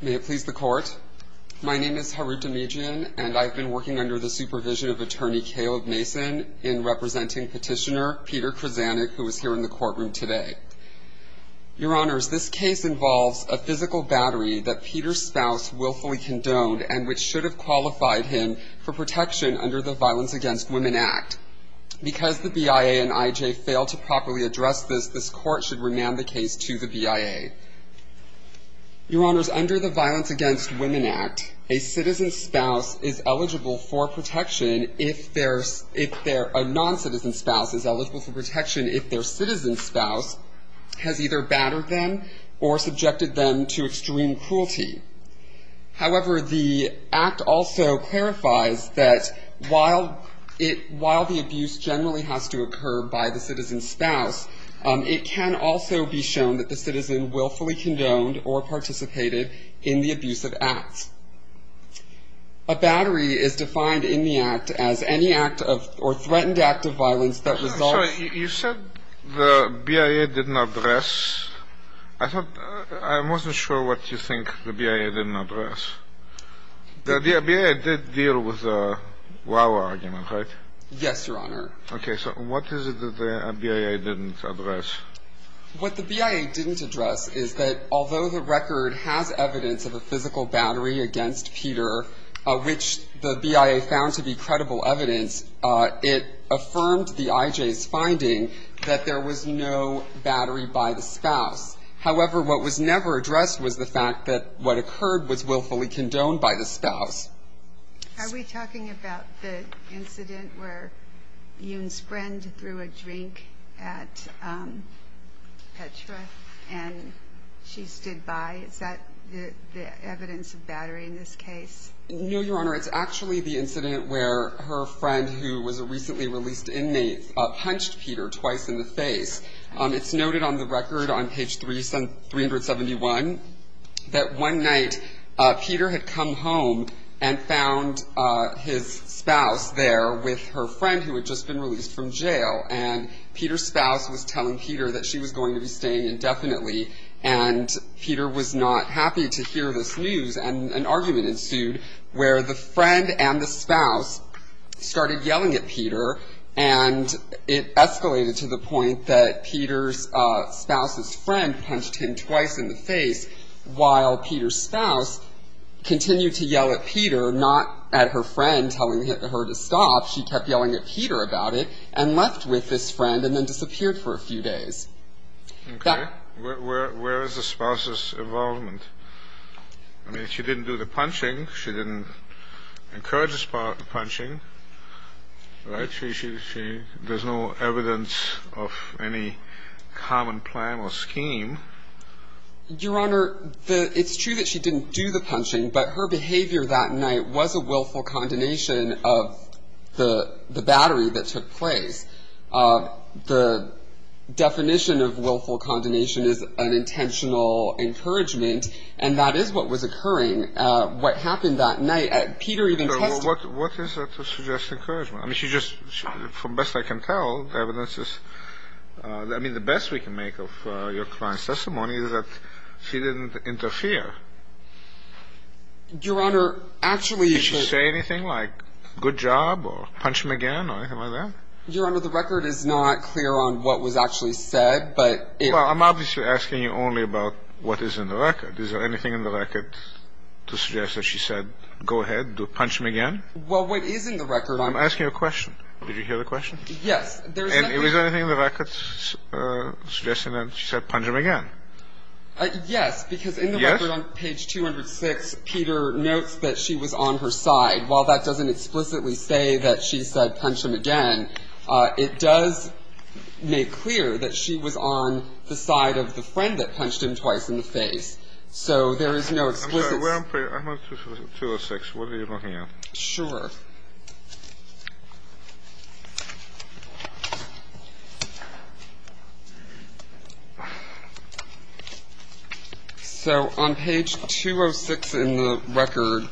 May it please the Court, my name is Harut Dimijan and I've been working under the supervision of Attorney Caleb Mason in representing petitioner Peter Krzyzanek who is here in the courtroom today. Your Honors, this case involves a physical battery that Peter's spouse willfully condoned and which should have qualified him for protection under the Violence Against Women Act. Because the BIA and IJ failed to properly address this, this Court should remand the case to the BIA. Your Honor, under the Violence Against Women Act, a citizen's spouse is eligible for protection if their, if their, a non-citizen spouse is eligible for protection if their citizen spouse has either battered them or subjected them to extreme cruelty. However, the Act also clarifies that while it, while the abuse generally has to occur by the citizen's spouse, it can also be shown that the in the abuse of acts. A battery is defined in the Act as any act of, or threatened act of violence that results. You said the BIA did not address. I thought, I wasn't sure what you think the BIA didn't address. The BIA did deal with the Wawa argument, right? Yes, Your Honor. Okay, so what is it that the BIA didn't address? What the BIA didn't address is that although the record has evidence of a physical battery against Peter, which the BIA found to be credible evidence, it affirmed the IJ's finding that there was no battery by the spouse. However, what was never addressed was the fact that what occurred was willfully condoned by the spouse. Are we talking about the incident where Yoon's friend threw a drink at Petra and she stood by? Is that the evidence of battery in this case? No, Your Honor. It's actually the incident where her friend, who was a recently released inmate, punched Peter twice in the face. It's noted on the record on page 371 that one night Peter had come home and found his spouse there with her friend who had just been released from jail. And Peter's spouse was telling Peter that she was going to be staying indefinitely. And Peter was not happy to hear this news. And an argument ensued where the friend and the spouse started yelling at Peter. And it escalated to the point that Peter's spouse's friend punched him twice in the face while Peter's spouse continued to yell at Peter, not at her friend telling her to stop. She kept yelling at Peter about it and left with this friend and then disappeared for a few days. Okay. Where is the spouse's involvement? I mean, she didn't do the punching. She didn't encourage the punching, right? There's no evidence of any common plan or scheme. Your Honor, it's true that she didn't do the punching, but her behavior that night was a willful condemnation of the battery that took place. The definition of willful condemnation is an intentional encouragement, and that is what was occurring. What happened that night, Peter even testified to it. What is that to suggest encouragement? I mean, she just, from best I can tell, evidence is, I mean, the best we can make of your client's testimony is that she didn't interfere. Your Honor, actually... Did she say anything like, good job, or punch him again, or anything like that? Your Honor, the record is not clear on what was actually said, but... Well, I'm obviously asking you only about what is in the record. Is there anything in the record to suggest that she said, go ahead, punch him again? Well, what is in the record... I'm asking you a question. Did you hear the question? Yes. And is there anything in the record suggesting that she said, punch him again? Yes, because in the record on page 206, Peter notes that she was on her side. While that doesn't explicitly say that she said, punch him again, it does make clear that she was on the side of the friend that punched him twice in the face. So there is no explicit... I'm sorry, where on page... I'm on page 206. What are you looking at? Sure. So, on page 206 in the record...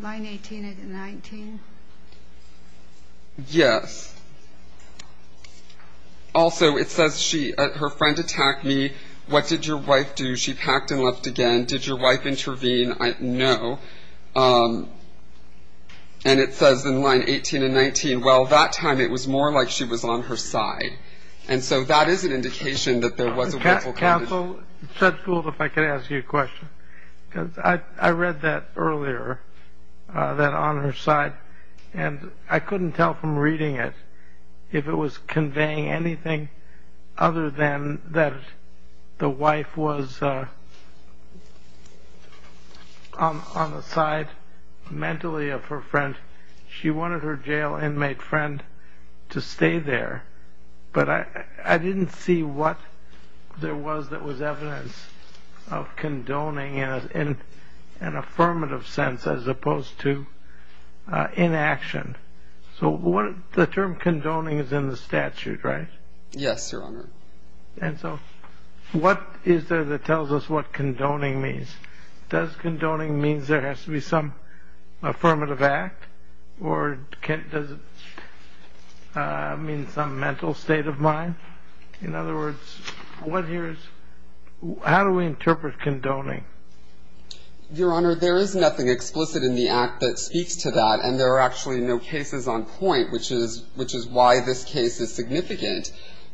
Line 18 and 19? Yes. Also, it says, her friend attacked me. What did your wife do? She packed and left again. Did your wife intervene? No. And it says in line 18 and 19, well, that time it was more like she was on her side. And so that is an indication that there was a ripple effect. Counsel, it's not cool if I could ask you a question. I read that earlier, that on her side. And I couldn't tell from reading it, if it was conveying anything other than that the wife was on the side, mentally, of her friend. She wanted her jail inmate friend to stay there. But I didn't see what there was that was evidence of condoning in an affirmative sense as opposed to inaction. So the term condoning is in the statute, right? Yes, Your Honor. And so what is there that tells us what condoning means? Does condoning mean there has to be some affirmative act? Or does it mean some mental state of mind? In other words, how do we interpret condoning? Your Honor, there is nothing explicit in the act that speaks to that. And there are actually no cases on point, which is why this case is significant.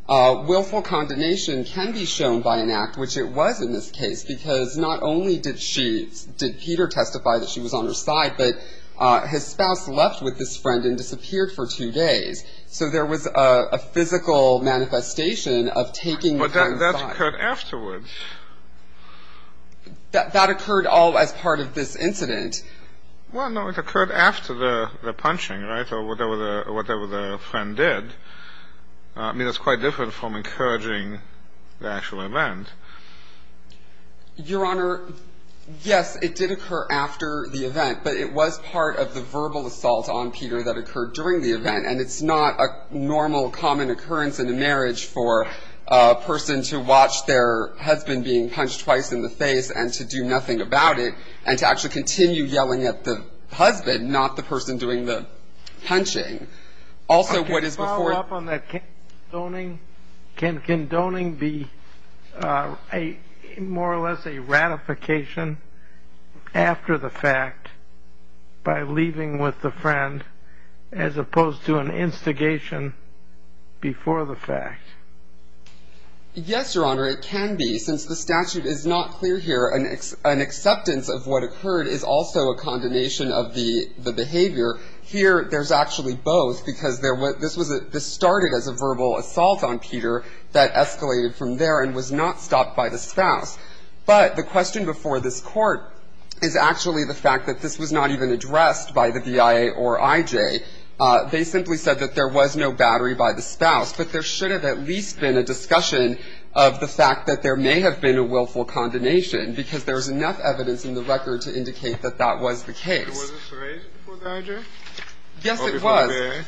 Willful condemnation can be shown by an act, which it was in this case. Because not only did Peter testify that she was on her side, but his spouse left with this friend and disappeared for two days. So there was a physical manifestation of taking her side. But that occurred afterwards. That occurred as part of this incident. Well, no, it occurred after the punching, right? Or whatever the friend did. I mean, that's quite different from encouraging the actual event. Your Honor, yes, it did occur after the event. And it's not a normal, common occurrence in a marriage for a person to watch their husband being punched twice in the face and to do nothing about it and to actually continue yelling at the husband, not the person doing the punching. Also, what is before... Can I follow up on that? Can condoning be more or less a ratification after the fact by leaving with the friend as opposed to an instigation before the fact? Yes, Your Honor, it can be. Since the statute is not clear here, an acceptance of what occurred is also a condemnation of the behavior. Here, there's actually both. Because this started as a verbal assault on Peter that escalated from there and was not stopped by the spouse. But the question before this Court is actually the fact that this was not even addressed by the V.I.A. or I.J. They simply said that there was no battery by the spouse. But there should have at least been a discussion of the fact that there may have been a willful condemnation because there's enough evidence in the record to indicate that that was the case. Was this raised before the I.J.? Yes, it was. Or before the V.I.A.?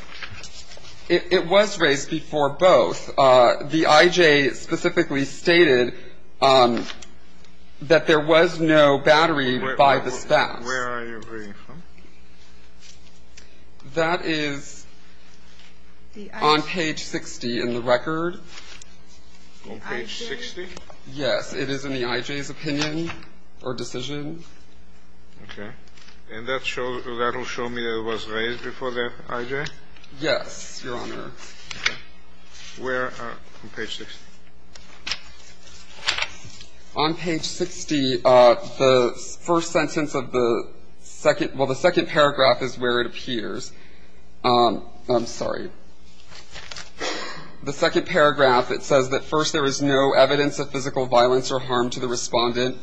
It was raised before both. The I.J. specifically stated that there was no battery by the spouse. Where are you reading from? That is on page 60 in the record. On page 60? Yes. It is in the I.J.'s opinion or decision. Okay. And that will show me that it was raised before the I.J.? Yes, Your Honor. Okay. Where on page 60? On page 60, the first sentence of the second – well, the second paragraph is where it appears. I'm sorry. The second paragraph, it says that first, there is no evidence of physical violence or harm to the respondent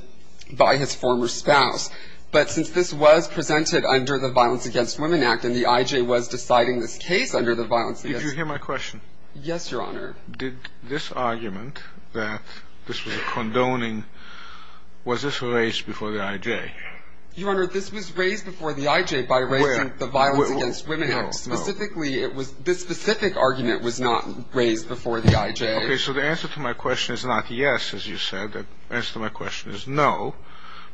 by his former spouse. But since this was presented under the Violence Against Women Act, and the I.J. was deciding this case under the Violence Against Women Act. Did you hear my question? Yes, Your Honor. Did this argument that this was a condoning, was this raised before the I.J.? Your Honor, this was raised before the I.J. by raising the Violence Against Women Act. Specifically, this specific argument was not raised before the I.J. Okay, so the answer to my question is not yes, as you said. The answer to my question is no,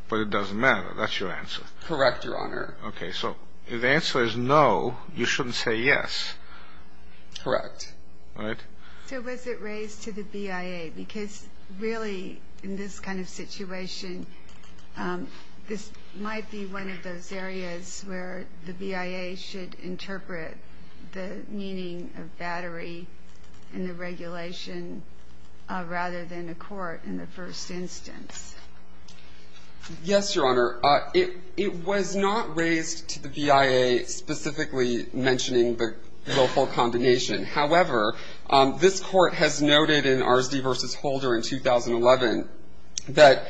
but it doesn't matter. That's your answer. Correct, Your Honor. Okay, so if the answer is no, you shouldn't say yes. Correct. All right. So was it raised to the BIA? Because really, in this kind of situation, this might be one of those areas where the BIA should interpret the meaning of battery in the regulation rather than a court in the first instance. Yes, Your Honor. It was not raised to the BIA specifically mentioning the willful condemnation. However, this Court has noted in Arsdi v. Holder in 2011 that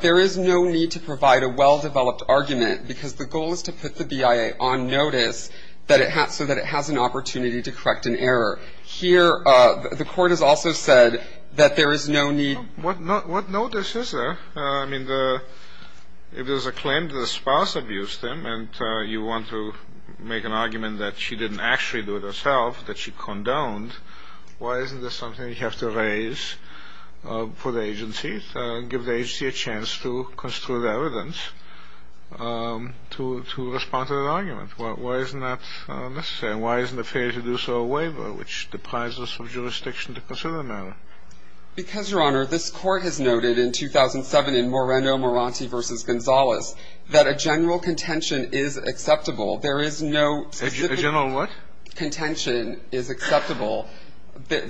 there is no need to provide a well-developed argument because the goal is to put the BIA on notice so that it has an opportunity to correct an error. Here, the Court has also said that there is no need. What notice is there? I mean, if there's a claim that a spouse abused them and you want to make an argument that she didn't actually do it herself, that she condoned, why isn't this something you have to raise for the agency, give the agency a chance to construe the evidence to respond to that argument? Why isn't that necessary? Why isn't it fair to do so a waiver, which deprives us of jurisdiction to consider the matter? Because, Your Honor, this Court has noted in 2007 in Moreno-Moranti v. Gonzalez that a general contention is acceptable. There is no specific contention is acceptable.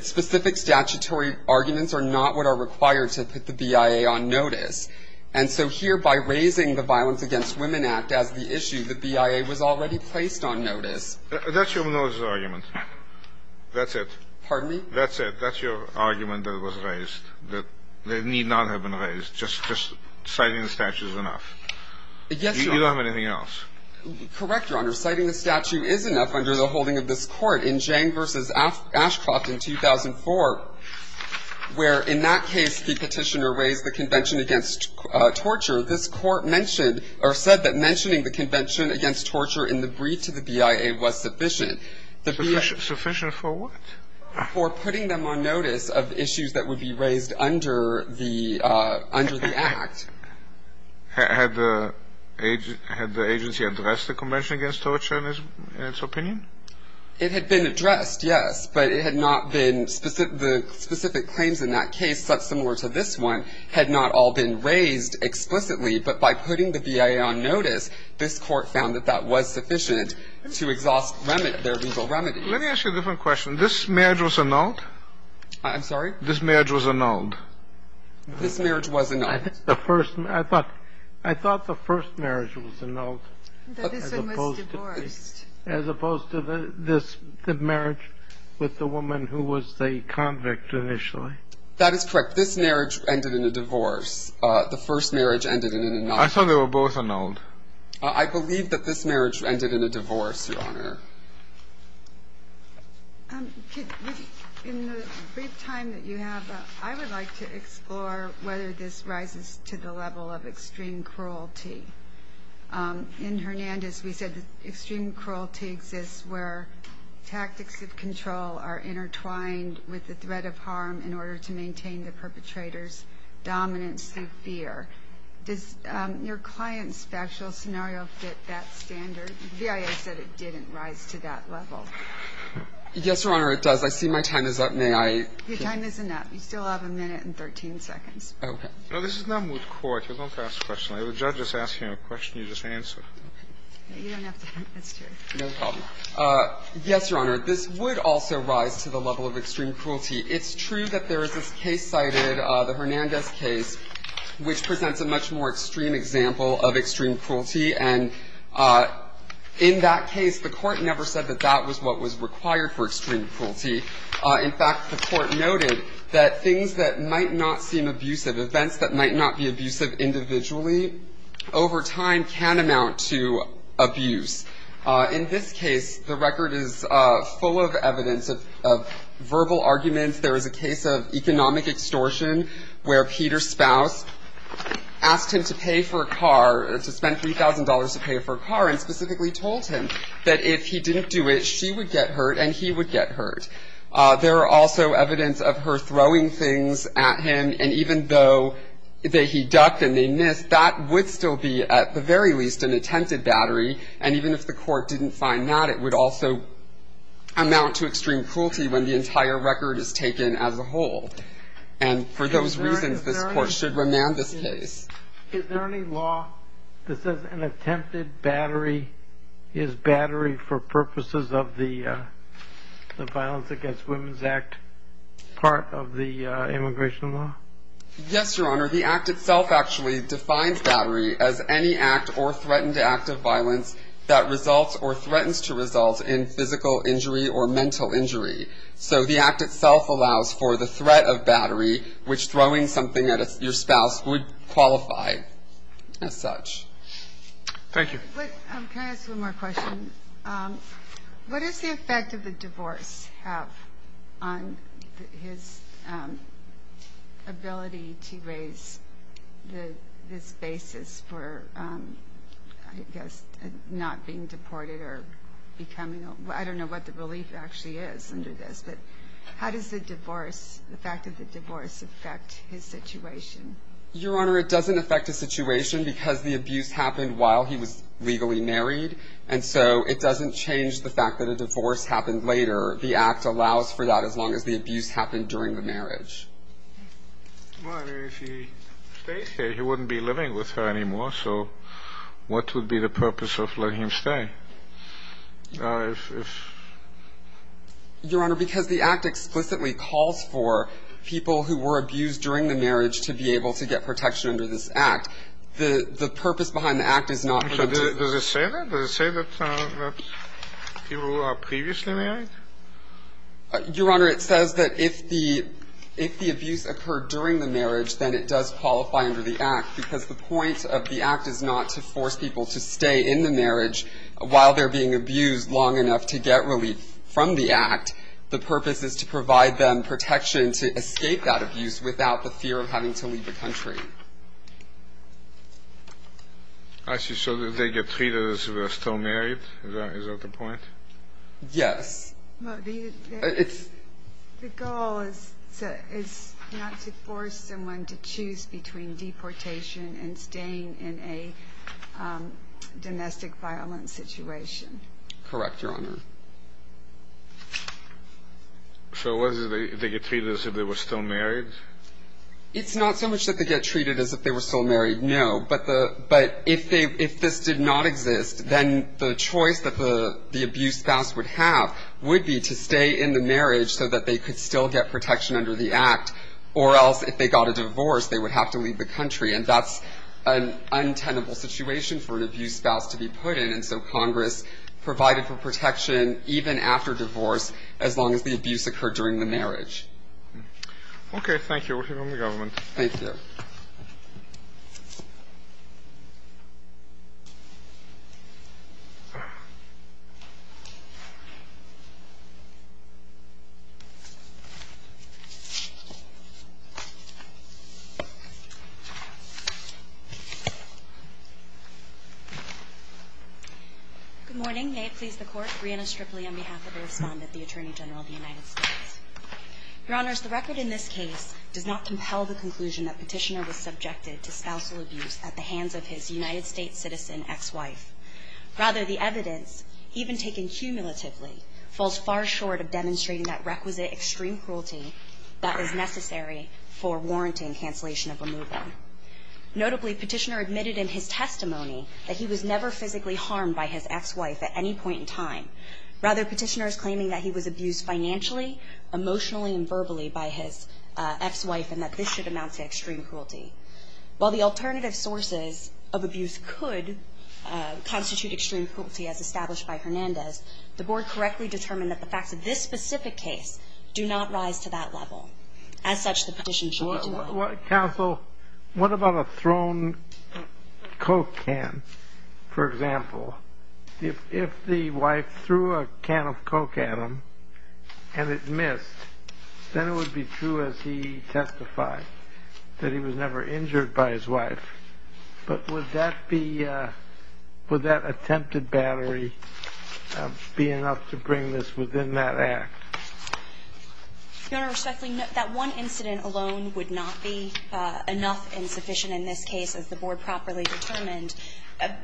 Specific statutory arguments are not what are required to put the BIA on notice. And so here, by raising the Violence Against Women Act as the issue, the BIA was already placed on notice. That's your notice argument. That's it. Pardon me? That's it. That's the only argument that was raised that need not have been raised. Just citing the statute is enough. Yes, Your Honor. You don't have anything else. Correct, Your Honor. Citing the statute is enough under the holding of this Court. In Jang v. Ashcroft in 2004, where in that case the petitioner raised the Convention Against Torture, this Court mentioned or said that mentioning the Convention Against Torture in the brief to the BIA was sufficient. Sufficient for what? For putting them on notice of issues that would be raised under the Act. Had the agency addressed the Convention Against Torture in its opinion? It had been addressed, yes. But it had not been specific. The specific claims in that case, such similar to this one, had not all been raised explicitly. But by putting the BIA on notice, this Court found that that was sufficient to exhaust their legal remedy. Let me ask you a different question. This marriage was annulled? I'm sorry? This marriage was annulled? This marriage was annulled. I thought the first marriage was annulled. This one was divorced. As opposed to this marriage with the woman who was the convict initially. That is correct. This marriage ended in a divorce. The first marriage ended in an annulment. I believe that this marriage ended in a divorce, Your Honor. In the brief time that you have, I would like to explore whether this rises to the level of extreme cruelty. In Hernandez, we said that extreme cruelty exists where tactics of control are intertwined with the threat of harm in order to maintain the perpetrator's dominance through fear. Does your client's factual scenario fit that standard? The BIA said it didn't, right? Does this rise to that level? Yes, Your Honor, it does. I see my time is up. May I? Your time is up. You still have a minute and 13 seconds. Okay. No, this is not moot court. You don't have to ask a question. The judge is asking a question you just answered. You don't have to ask a question. No problem. Yes, Your Honor. This would also rise to the level of extreme cruelty. It's true that there is this case cited, the Hernandez case, which presents a much more extreme example of extreme cruelty. And in that case, the court never said that that was what was required for extreme cruelty. In fact, the court noted that things that might not seem abusive, events that might not be abusive individually, over time can amount to abuse. In this case, the record is full of evidence of verbal arguments. There is a case of economic extortion where Peter's spouse asked him to pay for a car, to spend $3,000 to pay for a car, and specifically told him that if he didn't do it, she would get hurt and he would get hurt. There are also evidence of her throwing things at him, and even though he ducked and they missed, that would still be, at the very least, an attempted battery. And even if the court didn't find that, it would also amount to extreme cruelty when the entire record is taken as a whole. And for those reasons, this court should remand this case. Is there any law that says an attempted battery is battery for purposes of the Violence Against Women's Act, part of the immigration law? Yes, Your Honor. The Act itself actually defines battery as any act or threatened act of violence that results or threatens to result in physical injury or mental injury. So the Act itself allows for the threat of battery, which throwing something at your spouse would qualify as such. Thank you. Can I ask one more question? What does the effect of the divorce have on his ability to raise this basis for, I guess, not being deported or becoming a... I don't know what the relief actually is under this, but how does the fact of the divorce affect his situation? Your Honor, it doesn't affect his situation because the abuse happened while he was legally married, and so it doesn't change the fact that a divorce happened later. The Act allows for that as long as the abuse happened during the marriage. Well, I mean, if he stays here, he wouldn't be living with her anymore, so what would be the purpose of letting him stay? Your Honor, because the Act explicitly calls for people who were abused during the marriage to be able to get protection under this Act. The purpose behind the Act is not... Does it say that? Does it say that people who are previously married? Your Honor, it says that if the abuse occurred during the marriage, then it does qualify under the Act, because the point of the Act is not to force people to stay in the marriage while they're being abused long enough to get relief from the Act. The purpose is to provide them protection to escape that abuse without the fear of having to leave the country. I see. So they get treated as if they're still married? Is that the point? Yes. The goal is not to force someone to choose between deportation and staying in a domestic violence situation. Correct, Your Honor. So what is it? They get treated as if they were still married? It's not so much that they get treated as if they were still married, no. But if this did not exist, then the choice that the abused spouse would have would be to stay in the marriage so that they could still get protection under the Act, or else, if they got a divorce, they would have to leave the country. And that's an untenable situation for an abused spouse to be put in. And so Congress provided for protection even after divorce, as long as the abuse occurred during the marriage. Okay. Thank you. We'll hear from the government. Thank you. Good morning. May it please the Court. Breanna Stripley on behalf of the respondent, the Attorney General of the United States. Your Honors, the record in this case does not compel the conclusion that Petitioner was subjected to spousal abuse at the hands of his United States citizen ex-wife. Rather, the evidence, even taken cumulatively, falls far short of demonstrating that requisite extreme cruelty that is necessary for warranting cancellation of marriage. Notably, Petitioner admitted in his testimony that he was never physically harmed by his ex-wife at any point in time. Rather, Petitioner is claiming that he was abused financially, emotionally, and verbally by his ex-wife, and that this should amount to extreme cruelty. While the alternative sources of abuse could constitute extreme cruelty, as established by Hernandez, the Board correctly determined that the facts of this specific case do not rise to that level. As such, the petition should be delayed. Counsel, what about a thrown coke can, for example? If the wife threw a can of coke at him, and it missed, then it would be true as he testified, that he was never injured by his wife. But would that be, would that attempted battery be enough to bring this within that act? Your Honor, respectfully, that one incident alone would not be enough and sufficient in this case, as the Board properly determined,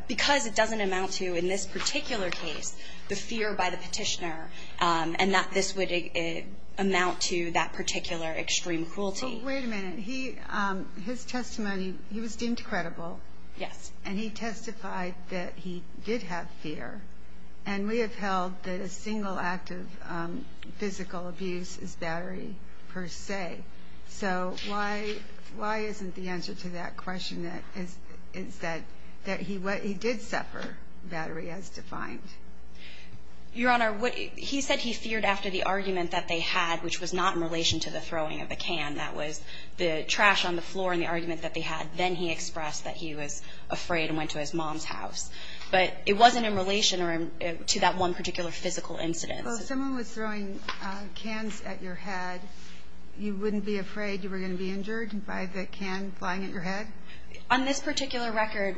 because it doesn't amount to, in this particular case, the fear by the Petitioner, and that this would amount to that particular extreme cruelty. Wait a minute. His testimony, he was deemed credible. Yes. And he testified that he did have fear. And we have held that a single act of physical abuse is battery per se. So why isn't the answer to that question that he did suffer battery as defined? Your Honor, he said he feared after the argument that they had, which was not in relation to the throwing of the can. That was the trash on the floor and the argument that they had. Then he expressed that he was afraid and went to his mom's house. But it wasn't in relation to that one particular physical incident. Well, if someone was throwing cans at your head, you wouldn't be afraid you were going to be injured by the can flying at your head? On this particular record,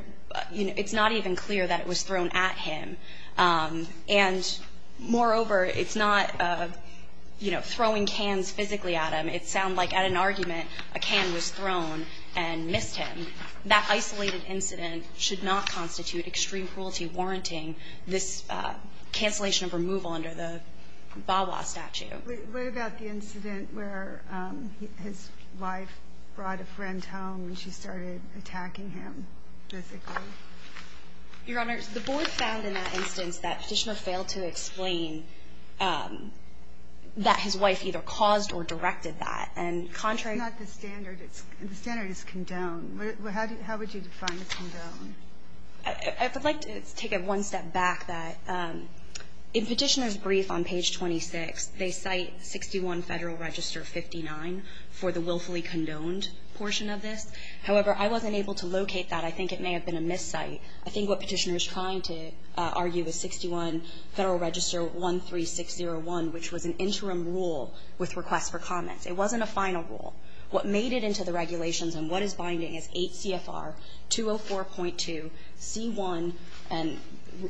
it's not even clear that it was thrown at him. And, moreover, it's not throwing cans physically at him. It sounds like at an argument a can was thrown and missed him. That isolated incident should not constitute extreme cruelty warranting this cancellation of removal under the VAWA statute. What about the incident where his wife brought a friend home and she started attacking him physically? Your Honor, the Board found in that instance that Fischner failed to explain that his wife either caused or directed that. That's not the standard. The standard is condoned. How would you define the condone? I would like to take it one step back. In Petitioner's brief on page 26, they cite 61 Federal Register 59 for the willfully condoned portion of this. However, I wasn't able to locate that. I think it may have been a miscite. I think what Petitioner is trying to argue is 61 Federal Register 13601, which was an interim rule with requests for comments. It wasn't a final rule. What made it to the regulations and what is binding is 8 CFR 204.2 C1 and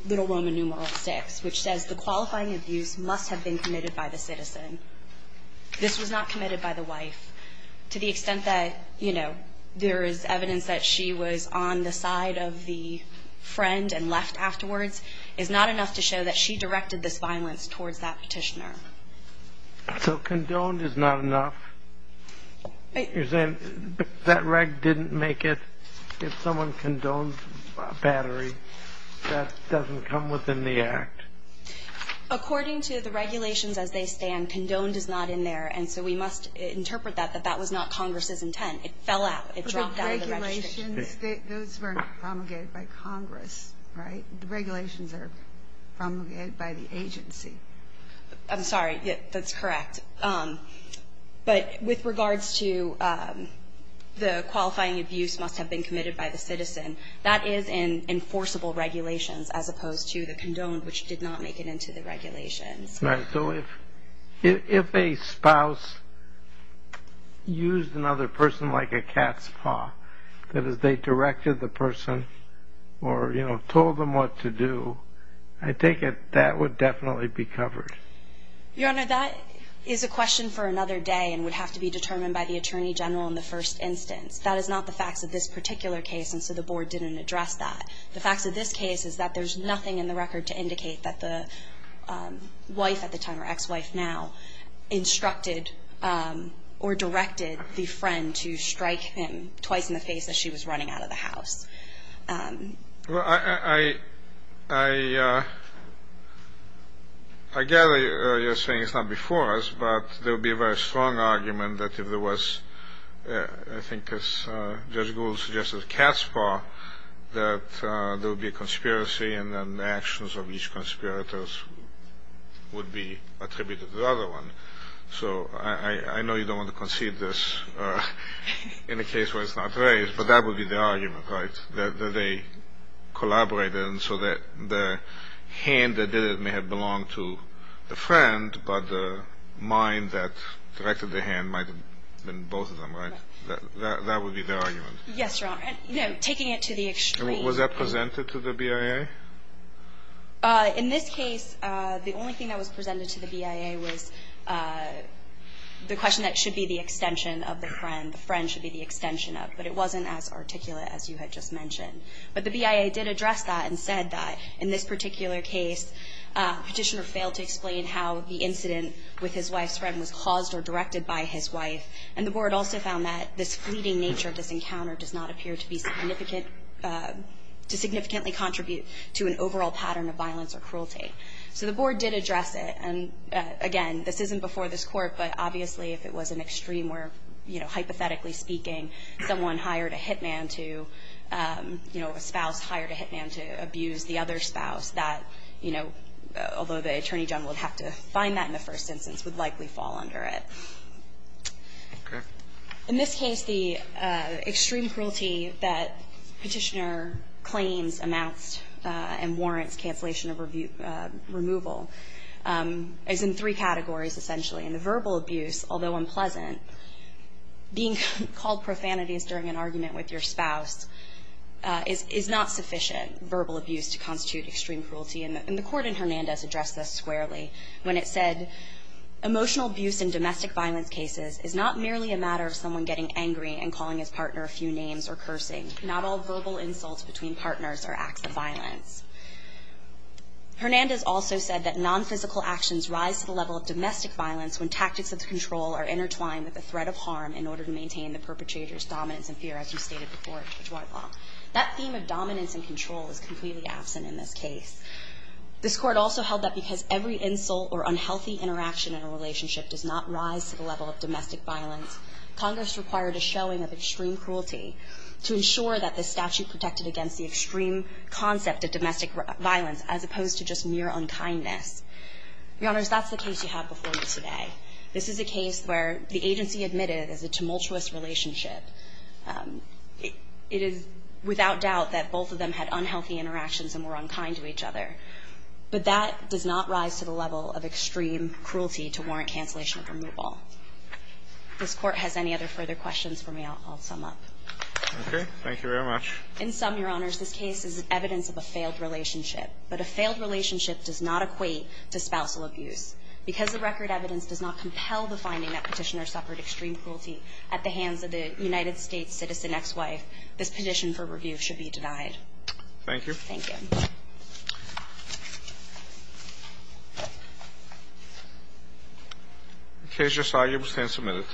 Little Roman numeral 6, which says the qualifying abuse must have been committed by the citizen. This was not committed by the wife. To the extent that, you know, there is evidence that she was on the side of the friend and left afterwards is not enough to show that she directed this violence towards that petitioner. So condoned is not enough? You're saying that reg didn't make it if someone condoned battery, that doesn't come within the act? According to the regulations as they stand, condoned is not in there, and so we must interpret that, that that was not Congress's intent. It fell out. It dropped out of the registration. But the regulations, those weren't promulgated by Congress, right? The regulations are promulgated by the agency. I'm sorry. That's correct. But with regards to the qualifying abuse must have been committed by the citizen, that is in enforceable regulations as opposed to the condoned, which did not make it into the regulations. If a spouse used another person like a cat's paw, that is, they directed the person or, you know, told them what to do, I take it that would definitely be covered. Your Honor, that is a question for another day and would have to be determined by the Attorney General in the first instance. That is not the facts of this particular case, and so the Board didn't address that. The facts of this case is that there's nothing in the record to indicate that the wife at the time, or ex-wife now, instructed or directed the in the face as she was running out of the house. Well, I I I I gather you're saying it's not before us, but there would be a very strong argument that if there was, I think as Judge Gould suggested, a cat's paw, that there would be a conspiracy and then the actions of each conspirator would be attributed to the other one. So I know you don't want to concede this in a case where it's not raised, but that would be the argument, right? That they collaborated so that the hand that did it may have belonged to the friend, but the mind that directed the hand might have been both of them, right? That would be the argument. Yes, Your Honor. Taking it to the extreme. Was that presented to the BIA? In this case, the only thing that was presented to the BIA was the question that it should be the extension of the friend. The friend should be the extension of. But it wasn't as articulate as you had just mentioned. But the BIA did address that and said that in this particular case Petitioner failed to explain how the incident with his wife's friend was caused or directed by his wife and the Board also found that this fleeting nature of this encounter does not appear to be significant to significantly contribute to an overall pattern of violence or cruelty. So the Board did address it and again, this isn't before this Court, but obviously if it was an extreme where hypothetically speaking someone hired a hitman to you know, a spouse hired a hitman to abuse the other spouse, that you know, although the Attorney General would have to find that in the first instance would likely fall under it. In this case, the extreme cruelty that Petitioner claims amounts and warrants cancellation of removal is in three categories essentially. The verbal abuse, although unpleasant being called profanities during an argument with your spouse is not sufficient verbal abuse to constitute extreme cruelty and the Court in Hernandez addressed this squarely when it said emotional abuse in domestic violence cases is not merely a matter of someone getting angry and calling his partner a few names or cursing. Not all verbal insults between partners are acts of violence. Hernandez also said that non-physical actions rise to the level of domestic violence when tactics of control are intertwined with the threat of harm in order to maintain the perpetrator's dominance and fear as you stated before. That theme of dominance and control is completely absent in this case. This Court also held that because every insult or unhealthy interaction in a relationship does not rise to the level of domestic violence, Congress required a showing of extreme cruelty to ensure that the statute protected against the extreme concept of domestic violence as opposed to just your unkindness. Your Honors, that's the case you have before you today. This is a case where the agency admitted as a tumultuous relationship it is without doubt that both of them had unhealthy interactions and were unkind to each other but that does not rise to the level of extreme cruelty to warrant cancellation of removal. If this Court has any other further questions for me, I'll sum up. Okay. Thank you very much. In sum, Your Honors, this case is evidence of a failed relationship, but a failed relationship does not equate to spousal abuse. Because the record evidence does not compel the finding that Petitioner suffered extreme cruelty at the hands of the United States' citizen ex-wife, this petition for review should be denied. Thank you. Thank you. Case just argued. We stand submitted.